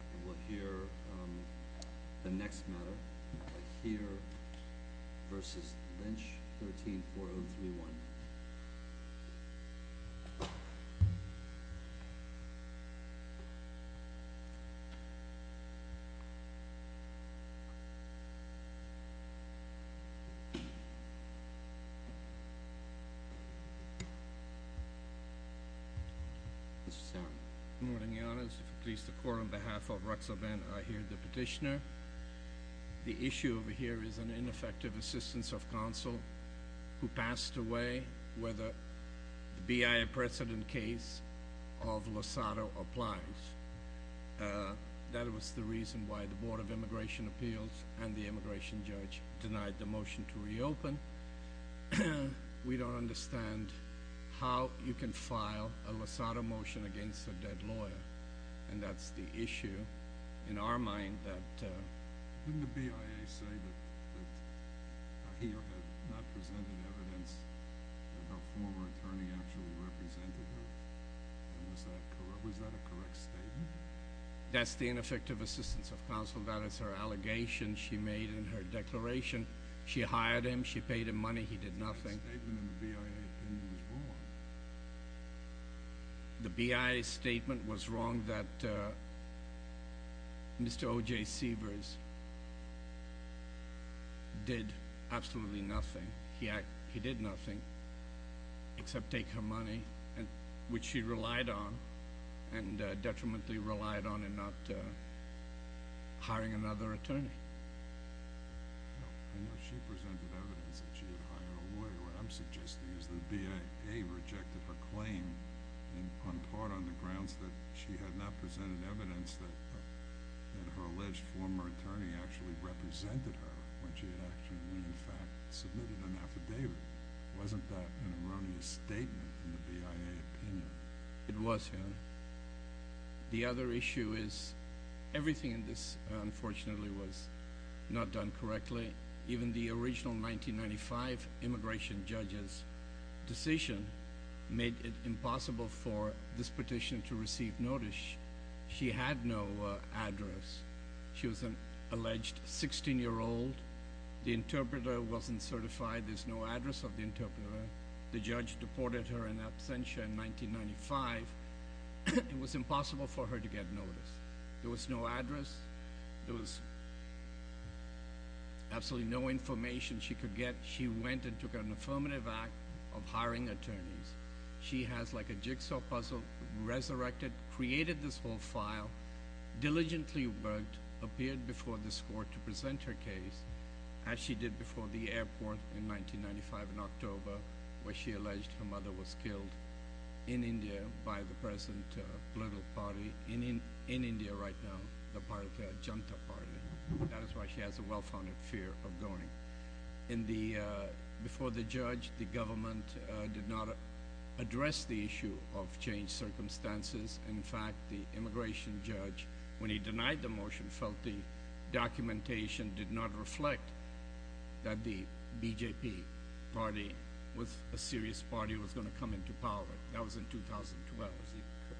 And we'll hear the next matter, Ahir v. Lynch, 134031. Mr. Sam. Good morning, Your Honors. If it pleases the Court, on behalf of Ruxa Ben Ahir, the petitioner, the issue over here is an ineffective assistance of counsel who passed away whether the BIA precedent case of Lozado applies. That was the reason why the Board of Immigration Appeals and the immigration judge denied the motion to reopen. We don't understand how you can file a Lozado motion against a dead lawyer, and that's the issue in our mind that... That's the ineffective assistance of counsel. That is her allegation she made in her declaration. She hired him. She paid him money. He did nothing. The BIA statement was wrong that Mr. O.J. Seavers did absolutely nothing. He did nothing except take her money, which she relied on and detrimentally relied on in not hiring another attorney. I know she presented evidence that she had hired a lawyer. What I'm suggesting is the BIA rejected her claim on part on the grounds that she had not presented evidence that her alleged former attorney actually represented her when she had actually in fact submitted an affidavit. Wasn't that an erroneous statement in the BIA opinion? It was. The other issue is everything in this, unfortunately, was not done correctly. Even the original 1995 immigration judge's decision made it impossible for this petition to receive notice. She had no address. She was an alleged 16-year-old. There's no address of the interpreter. The judge deported her in absentia in 1995. It was impossible for her to get notice. There was no address. There was absolutely no information she could get. She went and took an affirmative act of hiring attorneys. She has like a jigsaw puzzle, resurrected, created this whole file, diligently worked, appeared before this court to present her case as she did before the airport in 1995 in October where she alleged her mother was killed in India by the present political party. In India right now, the party of Janata Party. That is why she has a well-founded fear of going. Before the judge, the government did not address the issue of changed circumstances. In fact, the immigration judge, when he denied the motion, felt the documentation did not reflect that the BJP Party was a serious party that was going to come into power. That was in 2012.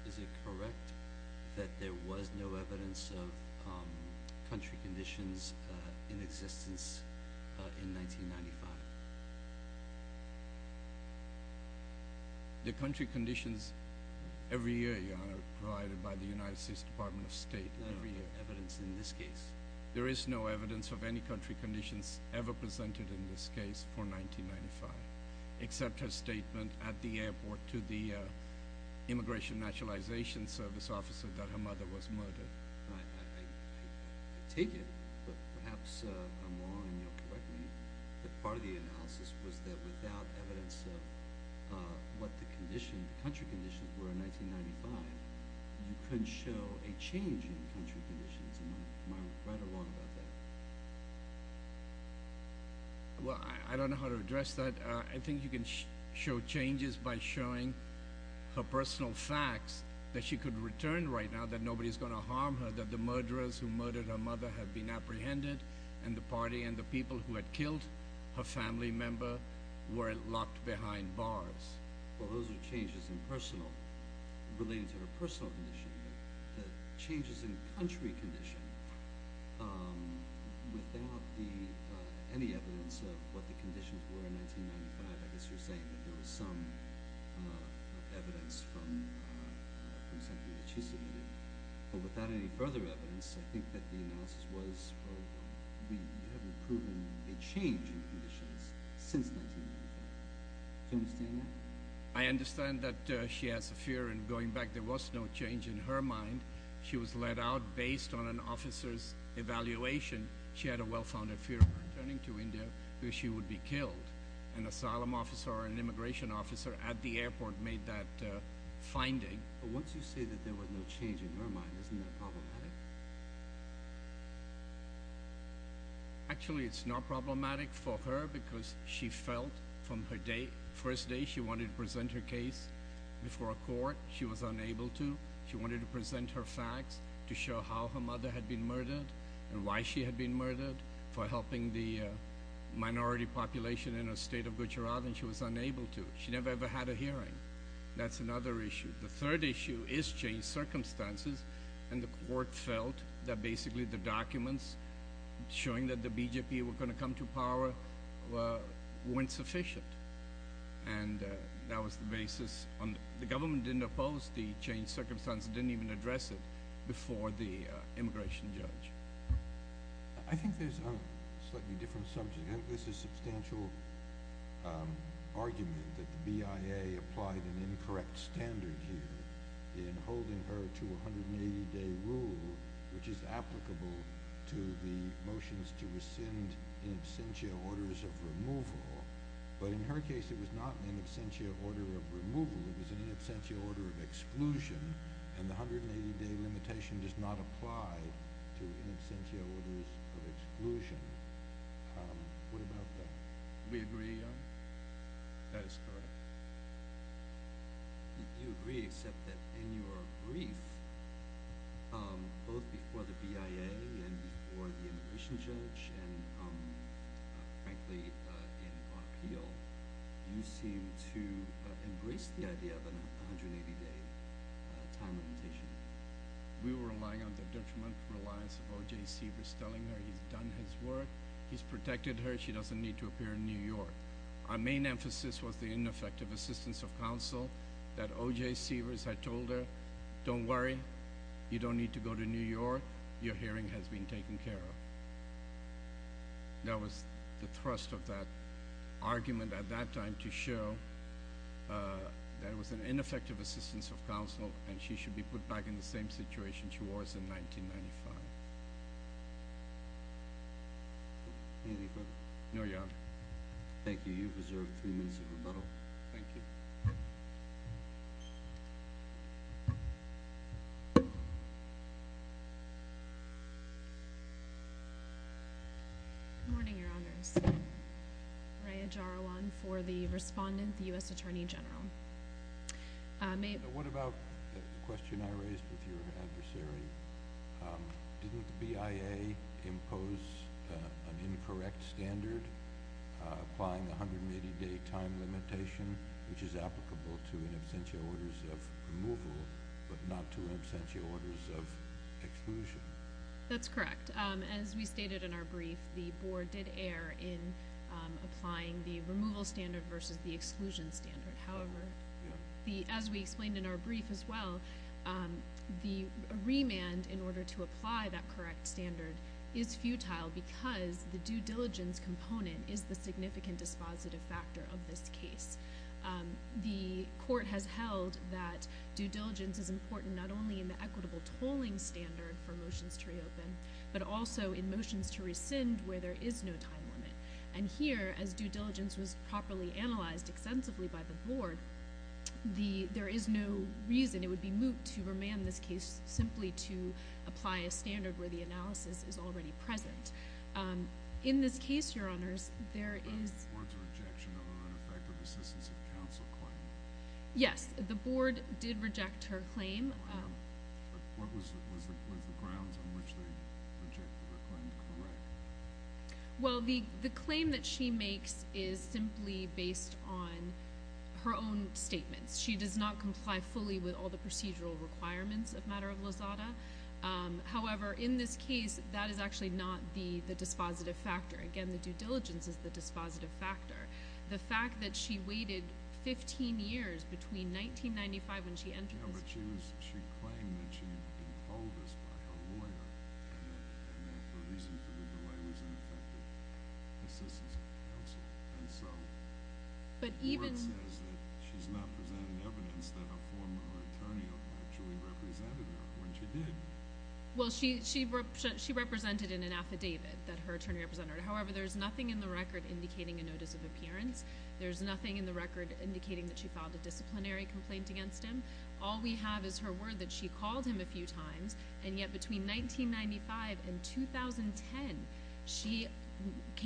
Is it correct that there was no evidence of country conditions in existence in 1995? The country conditions every year, Your Honor, provided by the United States Department of State every year. There is no evidence in this case. There is no evidence of any country conditions ever presented in this case for 1995 except her statement at the airport to the immigration naturalization service officer that her mother was murdered. I take it, but perhaps I'm wrong in your correctness, that part of the analysis was that without evidence of what the country conditions were in 1995, you couldn't show a change in the country conditions. Am I right or wrong about that? Well, I don't know how to address that. I think you can show changes by showing her personal facts that she could return right now, that nobody is going to harm her, that the murderers who murdered her mother have been apprehended, and the party and the people who had killed her family member were locked behind bars. Well, those are changes in personal, relating to her personal condition, but changes in country condition without any evidence of what the conditions were in 1995. I guess you're saying that there was some evidence from something that she submitted. But without any further evidence, I think that the analysis was you haven't proven a change in conditions since 1995. Do you understand that? I understand that she has a fear, and going back, there was no change in her mind. She was let out based on an officer's evaluation. She had a well-founded fear of returning to India where she would be killed. An asylum officer or an immigration officer at the airport made that finding. But once you say that there was no change in her mind, isn't that problematic? Actually, it's not problematic for her because she felt from her first day she wanted to present her case before a court. She was unable to. She wanted to present her facts to show how her mother had been murdered and why she had been murdered for helping the minority population in her state of Gujarat, and she was unable to. She never, ever had a hearing. That's another issue. The third issue is changed circumstances, and the court felt that basically the documents showing that the BJP were going to come to power weren't sufficient. And that was the basis. The government didn't oppose the changed circumstances, didn't even address it before the immigration judge. I think there's a slightly different subject. This is a substantial argument that the BIA applied an incorrect standard here in holding her to a 180-day rule, which is applicable to the motions to rescind in absentia orders of removal. But in her case, it was not an in absentia order of removal. It was an in absentia order of exclusion, and the 180-day limitation does not apply to in absentia orders of exclusion. What about that? Do we agree, Jan? That is correct. You agree, except that in your brief, both before the BIA and before the immigration judge and, frankly, in our appeal, you seem to embrace the idea of an 180-day time limitation. We were relying on the detrimental reliance of O.J. Seavers telling her he's done his work, he's protected her, she doesn't need to appear in New York. Our main emphasis was the ineffective assistance of counsel that O.J. Seavers had told her, don't worry, you don't need to go to New York, your hearing has been taken care of. That was the thrust of that argument at that time to show that it was an ineffective assistance of counsel and she should be put back in the same situation she was in 1995. Anything further? No, Your Honor. Thank you. You've reserved three minutes of rebuttal. Thank you. Good morning, Your Honors. Raya Jarawan for the respondent, the U.S. Attorney General. What about the question I raised with your adversary? Didn't the BIA impose an incorrect standard applying the 180-day time limitation, which is applicable to in absentia orders of removal but not to in absentia orders of exclusion? That's correct. As we stated in our brief, the Board did err in applying the removal standard versus the exclusion standard. However, as we explained in our brief as well, the remand in order to apply that correct standard is futile because the due diligence component is the significant dispositive factor of this case. The Court has held that due diligence is important not only in the equitable tolling standard for motions to reopen but also in motions to rescind where there is no time limit. And here, as due diligence was properly analyzed extensively by the Board, there is no reason. It would be moot to remand this case simply to apply a standard where the analysis is already present. In this case, Your Honors, there is— Was the Board's rejection of an ineffective assistance of counsel claim? Yes, the Board did reject her claim. Was the grounds on which they rejected her claim correct? Well, the claim that she makes is simply based on her own statements. She does not comply fully with all the procedural requirements of Matter of Lazada. However, in this case, that is actually not the dispositive factor. Again, the due diligence is the dispositive factor. The fact that she waited 15 years between 1995 when she entered this case— And the reason for the delay was ineffective assistance of counsel. And so, the Board says that she's not presenting evidence that a former attorney actually represented her when she did. She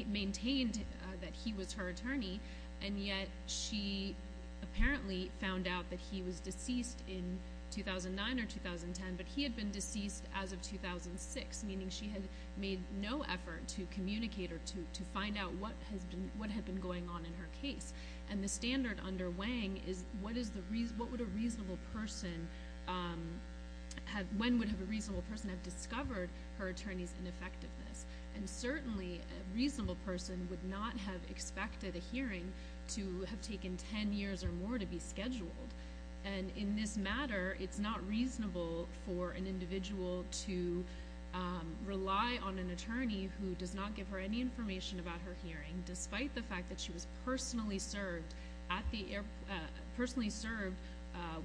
maintained that he was her attorney, and yet she apparently found out that he was deceased in 2009 or 2010, but he had been deceased as of 2006, meaning she had made no effort to communicate or to find out what had been going on in her case. And the standard under Wang is when would a reasonable person have discovered her attorney's ineffectiveness. And certainly, a reasonable person would not have expected a hearing to have taken 10 years or more to be scheduled. And in this matter, it's not reasonable for an individual to rely on an attorney who does not give her any information about her hearing, despite the fact that she was personally served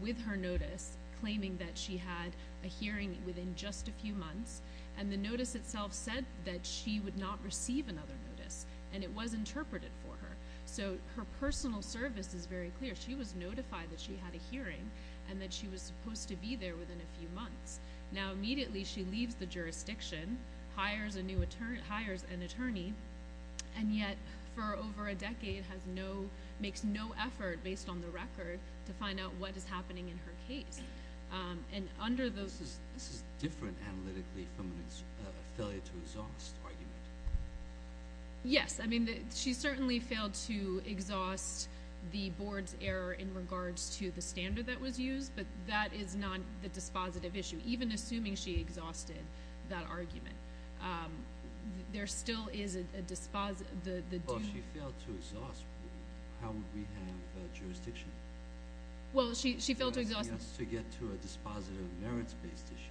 with her notice, claiming that she had a hearing within just a few months. And the notice itself said that she would not receive another notice, and it was interpreted for her. So, her personal service is very clear. She was notified that she had a hearing and that she was supposed to be there within a few months. Now, immediately, she leaves the jurisdiction, hires a new attorney, hires an attorney, and yet, for over a decade, makes no effort, based on the record, to find out what is happening in her case. This is different analytically from a failure to exhaust argument. Yes. I mean, she certainly failed to exhaust the board's error in regards to the standard that was used, but that is not the dispositive issue. Even assuming she exhausted that argument, there still is a dispositive issue. Well, if she failed to exhaust, how would we have jurisdiction? Well, she failed to exhaust. To get to a dispositive merits-based issue.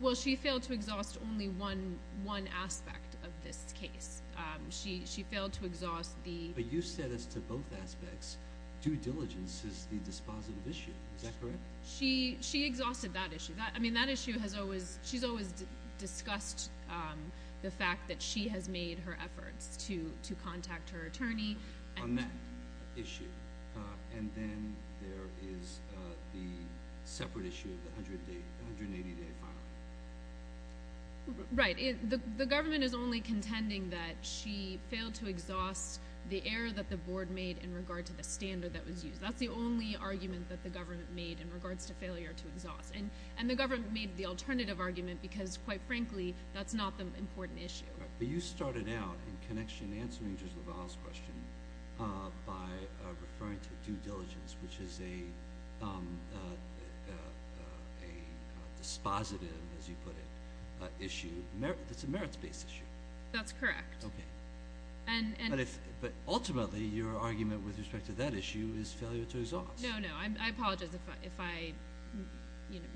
Well, she failed to exhaust only one aspect of this case. She failed to exhaust the... But you said as to both aspects, due diligence is the dispositive issue. Is that correct? She exhausted that issue. I mean, that issue has always... She's always discussed the fact that she has made her efforts to contact her attorney. On that issue. And then there is the separate issue of the 180-day filing. Right. The government is only contending that she failed to exhaust the error that the board made in regard to the standard that was used. That's the only argument that the government made in regards to failure to exhaust. And the government made the alternative argument because, quite frankly, that's not the important issue. But you started out in connection answering Judge LaValle's question by referring to due diligence, which is a dispositive, as you put it, issue that's a merits-based issue. That's correct. Okay. But ultimately, your argument with respect to that issue is failure to exhaust. No, no. I apologize if I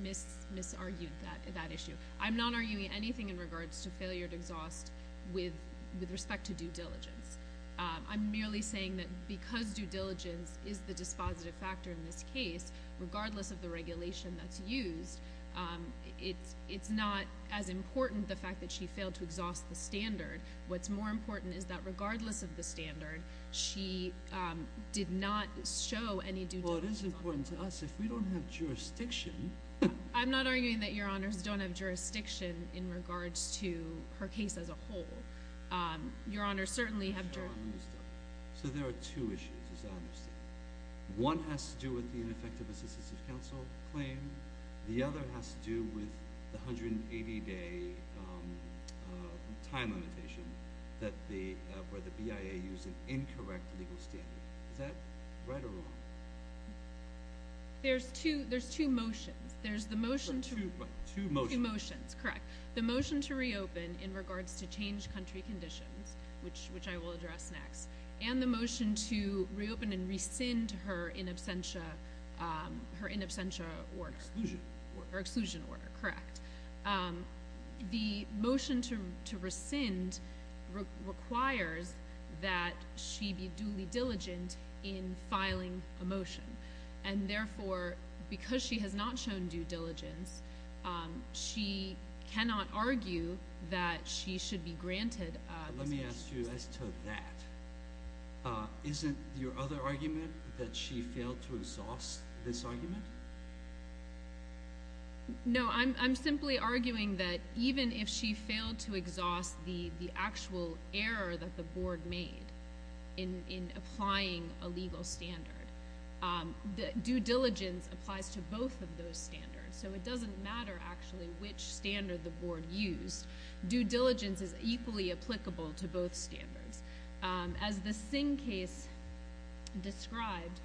misargued that issue. I'm not arguing anything in regards to failure to exhaust with respect to due diligence. I'm merely saying that because due diligence is the dispositive factor in this case, regardless of the regulation that's used, it's not as important the fact that she failed to exhaust the standard. What's more important is that regardless of the standard, she did not show any due diligence. Well, it is important to us. If we don't have jurisdiction – I'm not arguing that Your Honors don't have jurisdiction in regards to her case as a whole. Your Honors certainly have – So there are two issues, as I understand it. One has to do with the ineffective assistive counsel claim. The other has to do with the 180-day time limitation where the BIA used an incorrect legal standard. Is that right or wrong? There's two motions. There's the motion to – Two motions. Two motions. Correct. The motion to reopen in regards to changed country conditions, which I will address next, and the motion to reopen and rescind her in absentia – her in absentia order. Exclusion order. Her exclusion order. Correct. The motion to rescind requires that she be duly diligent in filing a motion. And therefore, because she has not shown due diligence, she cannot argue that she should be granted – Let me ask you as to that. Isn't your other argument that she failed to exhaust this argument? No, I'm simply arguing that even if she failed to exhaust the actual error that the Board made in applying a legal standard, due diligence applies to both of those standards. So it doesn't matter, actually, which standard the Board used. Due diligence is equally applicable to both standards. As the Singh case described,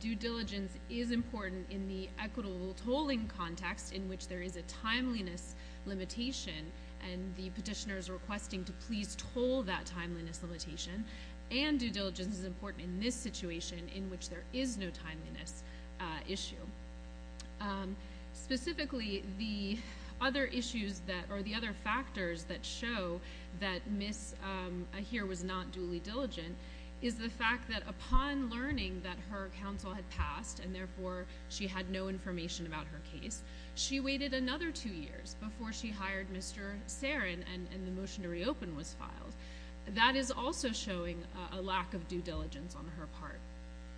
due diligence is important in the equitable tolling context in which there is a timeliness limitation and the petitioner is requesting to please toll that timeliness limitation, and due diligence is important in this situation in which there is no timeliness issue. Specifically, the other factors that show that Ms. Ahir was not duly diligent is the fact that upon learning that her counsel had passed and therefore she had no information about her case, she waited another two years before she hired Mr. Sarin and the motion to reopen was filed. That is also showing a lack of due diligence on her part.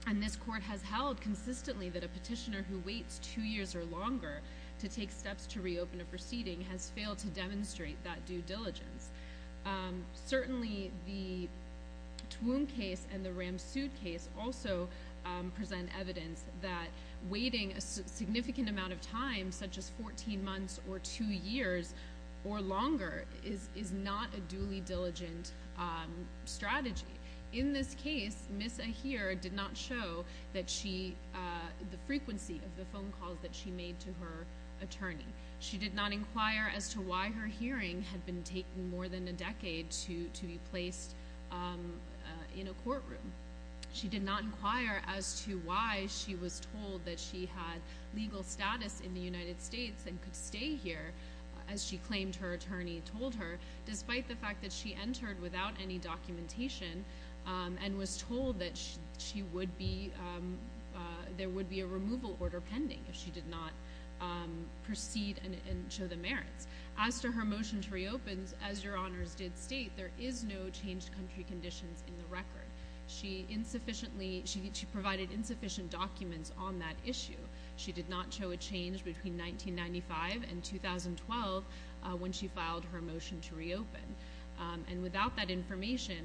And this Court has held consistently that a petitioner who waits two years or longer to take steps to reopen a proceeding has failed to demonstrate that due diligence. Certainly, the Twomb case and the Ramsud case also present evidence that waiting a significant amount of time, such as 14 months or two years or longer, is not a duly diligent strategy. In this case, Ms. Ahir did not show the frequency of the phone calls that she made to her attorney. She did not inquire as to why her hearing had been taking more than a decade to be placed in a courtroom. She did not inquire as to why she was told that she had legal status in the United States and could stay here, as she claimed her attorney told her, despite the fact that she entered without any documentation and was told that there would be a removal order pending if she did not proceed and show the merits. As to her motion to reopen, as Your Honours did state, there is no changed country conditions in the record. She provided insufficient documents on that issue. She did not show a change between 1995 and 2012 when she filed her motion to reopen. And without that information,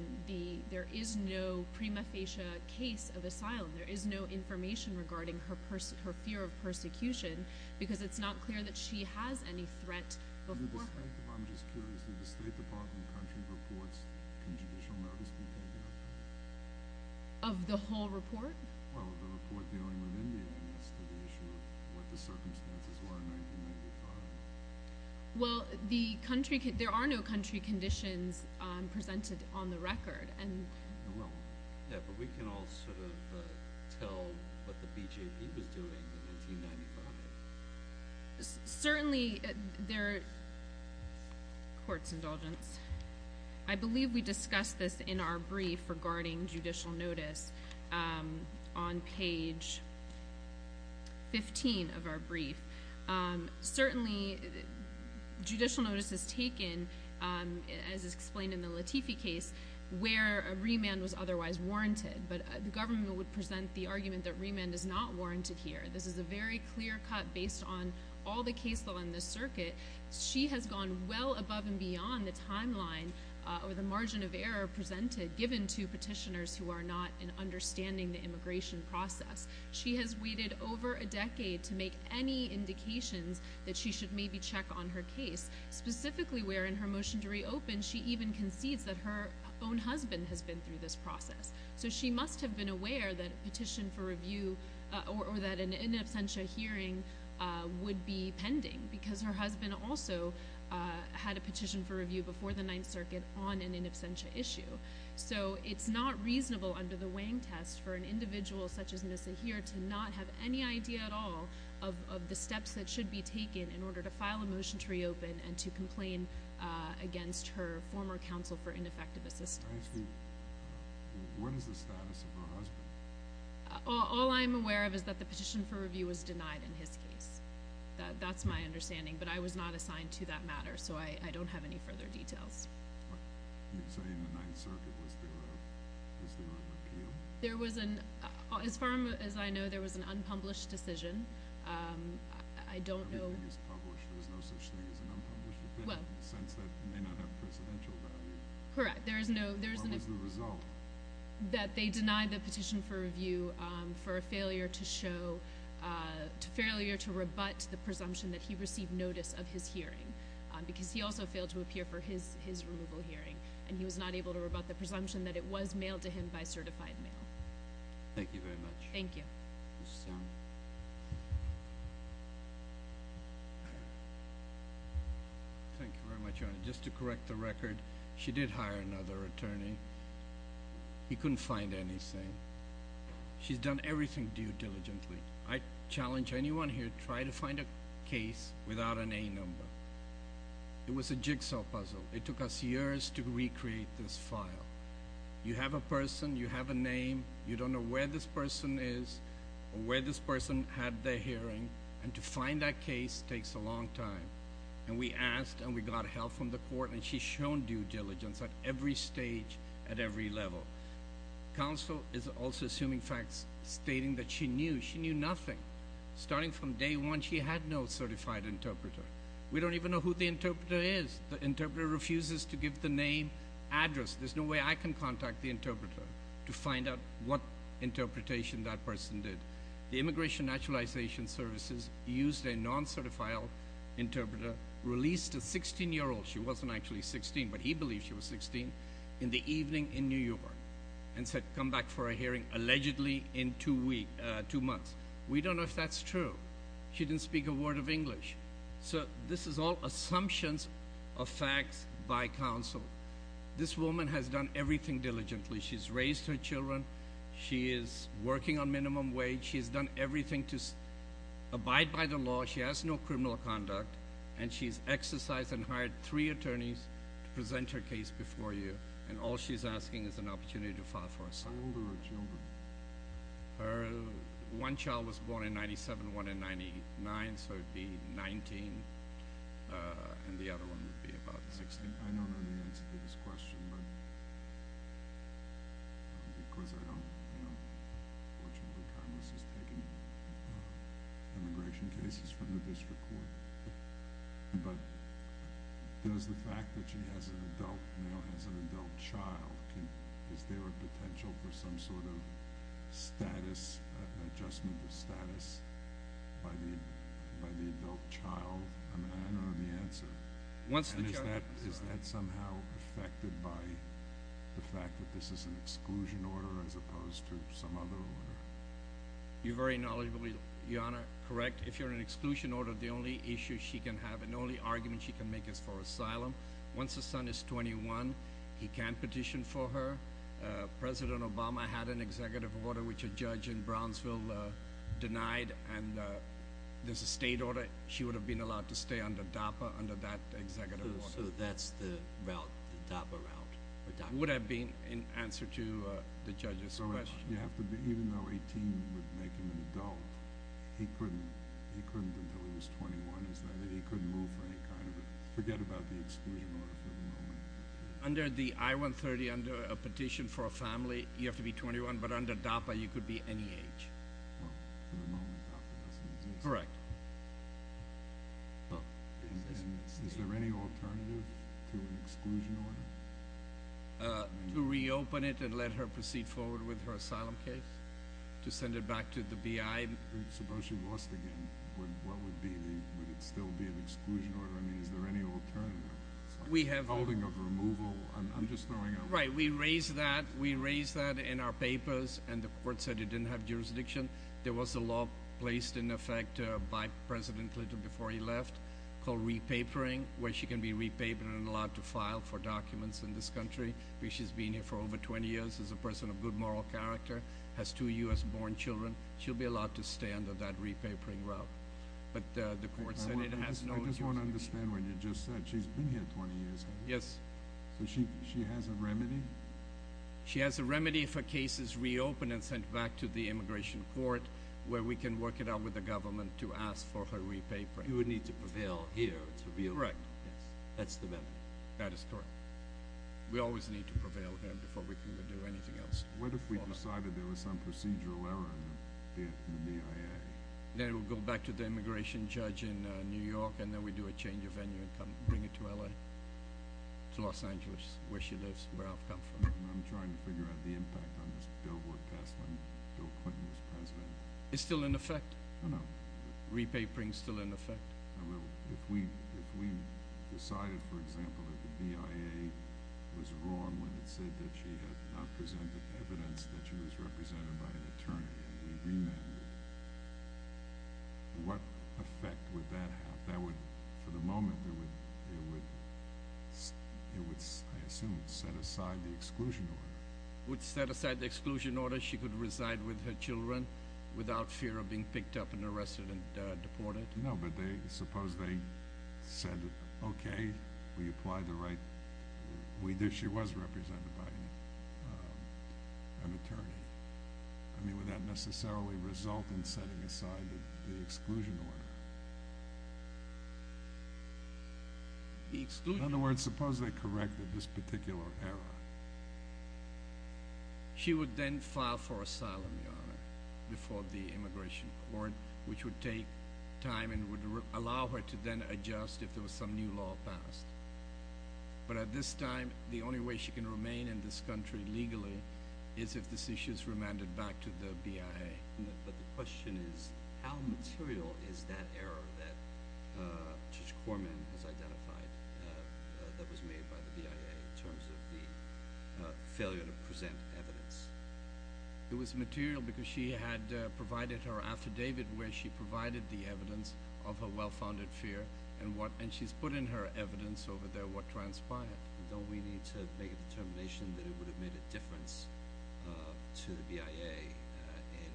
there is no prima facie case of asylum. There is no information regarding her fear of persecution, because it's not clear that she has any threat before her. I'm just curious, did the State Department country reports conditional notice behavior? Of the whole report? Well, the report dealing with India as to the issue of what the circumstances were in 1995. Well, there are no country conditions presented on the record. Yeah, but we can all sort of tell what the BJP was doing in 1995. Certainly, there... Court's indulgence. I believe we discussed this in our brief regarding judicial notice on page 15 of our brief. Certainly, judicial notice is taken, as is explained in the Latifi case, where a remand was otherwise warranted. But the government would present the argument that remand is not warranted here. This is a very clear cut based on all the cases on this circuit. She has gone well above and beyond the timeline or the margin of error presented, given to petitioners who are not in understanding the immigration process. She has waited over a decade to make any indications that she should maybe check on her case. Specifically, where in her motion to reopen, she even concedes that her own husband has been through this process. So she must have been aware that a petition for review or that an in absentia hearing would be pending, because her husband also had a petition for review before the Ninth Circuit on an in absentia issue. So it's not reasonable under the Wang test for an individual such as Nisahir to not have any idea at all of the steps that should be taken in order to file a motion to reopen and to complain against her former counsel for ineffective assistance. I ask you, what is the status of her husband? All I'm aware of is that the petition for review was denied in his case. That's my understanding, but I was not assigned to that matter, so I don't have any further details. So in the Ninth Circuit, was there an appeal? As far as I know, there was an unpublished decision. Everything is published. There's no such thing as an unpublished opinion, in the sense that it may not have precedential value. Correct. What was the result? That they denied the petition for review for a failure to show, a failure to rebut the presumption that he received notice of his hearing, because he also failed to appear for his removal hearing, and he was not able to rebut the presumption that it was mailed to him by certified mail. Thank you very much. Thank you. Thank you very much, Your Honor. Just to correct the record, she did hire another attorney. He couldn't find anything. She's done everything due diligently. I challenge anyone here to try to find a case without an A number. It was a jigsaw puzzle. It took us years to recreate this file. You have a person, you have a name, you don't know where this person is or where this person had their hearing, and to find that case takes a long time. And we asked, and we got help from the court, and she's shown due diligence at every stage, at every level. Counsel is also assuming facts stating that she knew. She knew nothing. Starting from day one, she had no certified interpreter. We don't even know who the interpreter is. The interpreter refuses to give the name, address. There's no way I can contact the interpreter to find out what interpretation that person did. The Immigration Naturalization Services used a non-certified interpreter, released a 16-year-old. She wasn't actually 16, but he believed she was 16, in the evening in New York and said come back for a hearing allegedly in two months. We don't know if that's true. She didn't speak a word of English. So this is all assumptions of facts by counsel. This woman has done everything diligently. She's raised her children. She is working on minimum wage. She has done everything to abide by the law. She has no criminal conduct. And she's exercised and hired three attorneys to present her case before you, and all she's asking is an opportunity to file for asylum. How old are her children? One child was born in 1997, one in 1999, so it would be 19, and the other one would be about 16. I don't know the answer to this question, because I don't know which of the panelists is taking immigration cases from the district court. But does the fact that she has an adult now, has an adult child, is there a potential for some sort of adjustment of status by the adult child? I don't know the answer. And is that somehow affected by the fact that this is an exclusion order as opposed to some other order? You're very knowledgeably, Your Honor, correct. If you're in an exclusion order, the only issue she can have and the only argument she can make is for asylum. Once the son is 21, he can petition for her. President Obama had an executive order which a judge in Brownsville denied, and there's a state order. She would have been allowed to stay under DAPA under that executive order. So that's the route, the DAPA route. It would have been in answer to the judge's question. So even though 18 would make him an adult, he couldn't until he was 21, is that it? He couldn't move for any kind of a—forget about the exclusion order for the moment. Under the I-130, under a petition for a family, you have to be 21, but under DAPA you could be any age. Well, for the moment, that doesn't exist. Correct. Is there any alternative to an exclusion order? To reopen it and let her proceed forward with her asylum case? To send it back to the BI? Suppose she lost again. Would it still be an exclusion order? I mean, is there any alternative? It's like a holding of removal. I'm just throwing out— Right. We raised that. We raised that in our papers, and the court said it didn't have jurisdiction. There was a law placed in effect by President Clinton before he left called repapering, where she can be repapered and allowed to file for documents in this country, because she's been here for over 20 years, is a person of good moral character, has two U.S.-born children. She'll be allowed to stay under that repapering route. But the court said it has no— I just want to understand what you just said. She's been here 20 years. Yes. So she has a remedy? She has a remedy if her case is reopened and sent back to the immigration court where we can work it out with the government to ask for her repapering. You would need to prevail here to reopen. Correct. That's the remedy. That is correct. We always need to prevail here before we can do anything else. What if we decided there was some procedural error in the BIA? Then it would go back to the immigration judge in New York, and then we'd do a change of venue and come bring it to LA, to Los Angeles, where she lives and where I've come from. I'm trying to figure out the impact on this billboard cast when Bill Clinton was president. It's still in effect? No, no. Repapering is still in effect? No, no. If we decided, for example, that the BIA was wrong when it said that she had not presented evidence that she was represented by an attorney, what effect would that have? For the moment, it would, I assume, set aside the exclusion order. It would set aside the exclusion order. She could reside with her children without fear of being picked up and arrested and deported? No, but suppose they said, okay, we apply the right. She was represented by an attorney. I mean, would that necessarily result in setting aside the exclusion order? The exclusion order. In other words, suppose they corrected this particular error. She would then file for asylum, Your Honor, before the immigration court, which would take time and would allow her to then adjust if there was some new law passed. But at this time, the only way she can remain in this country legally is if this issue is remanded back to the BIA. But the question is how material is that error that Judge Corman has identified that was made by the BIA in terms of the failure to present evidence? It was material because she had provided her affidavit where she provided the evidence of her well-founded fear, and she's put in her evidence over there what transpired. Don't we need to make a determination that it would have made a difference to the BIA in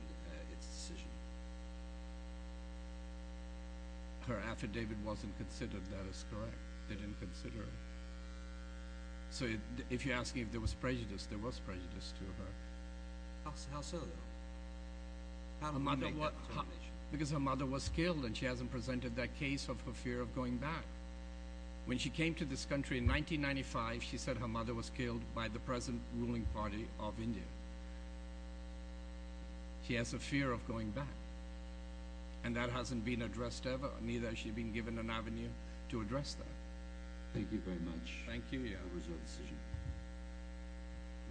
its decision? Her affidavit wasn't considered. That is correct. They didn't consider it. So if you're asking if there was prejudice, there was prejudice to her. How so, though? Because her mother was killed, and she hasn't presented that case of her fear of going back. When she came to this country in 1995, she said her mother was killed by the present ruling party of India. She has a fear of going back, and that hasn't been addressed ever, and neither has she been given an avenue to address that. Thank you very much. Thank you. What was your decision?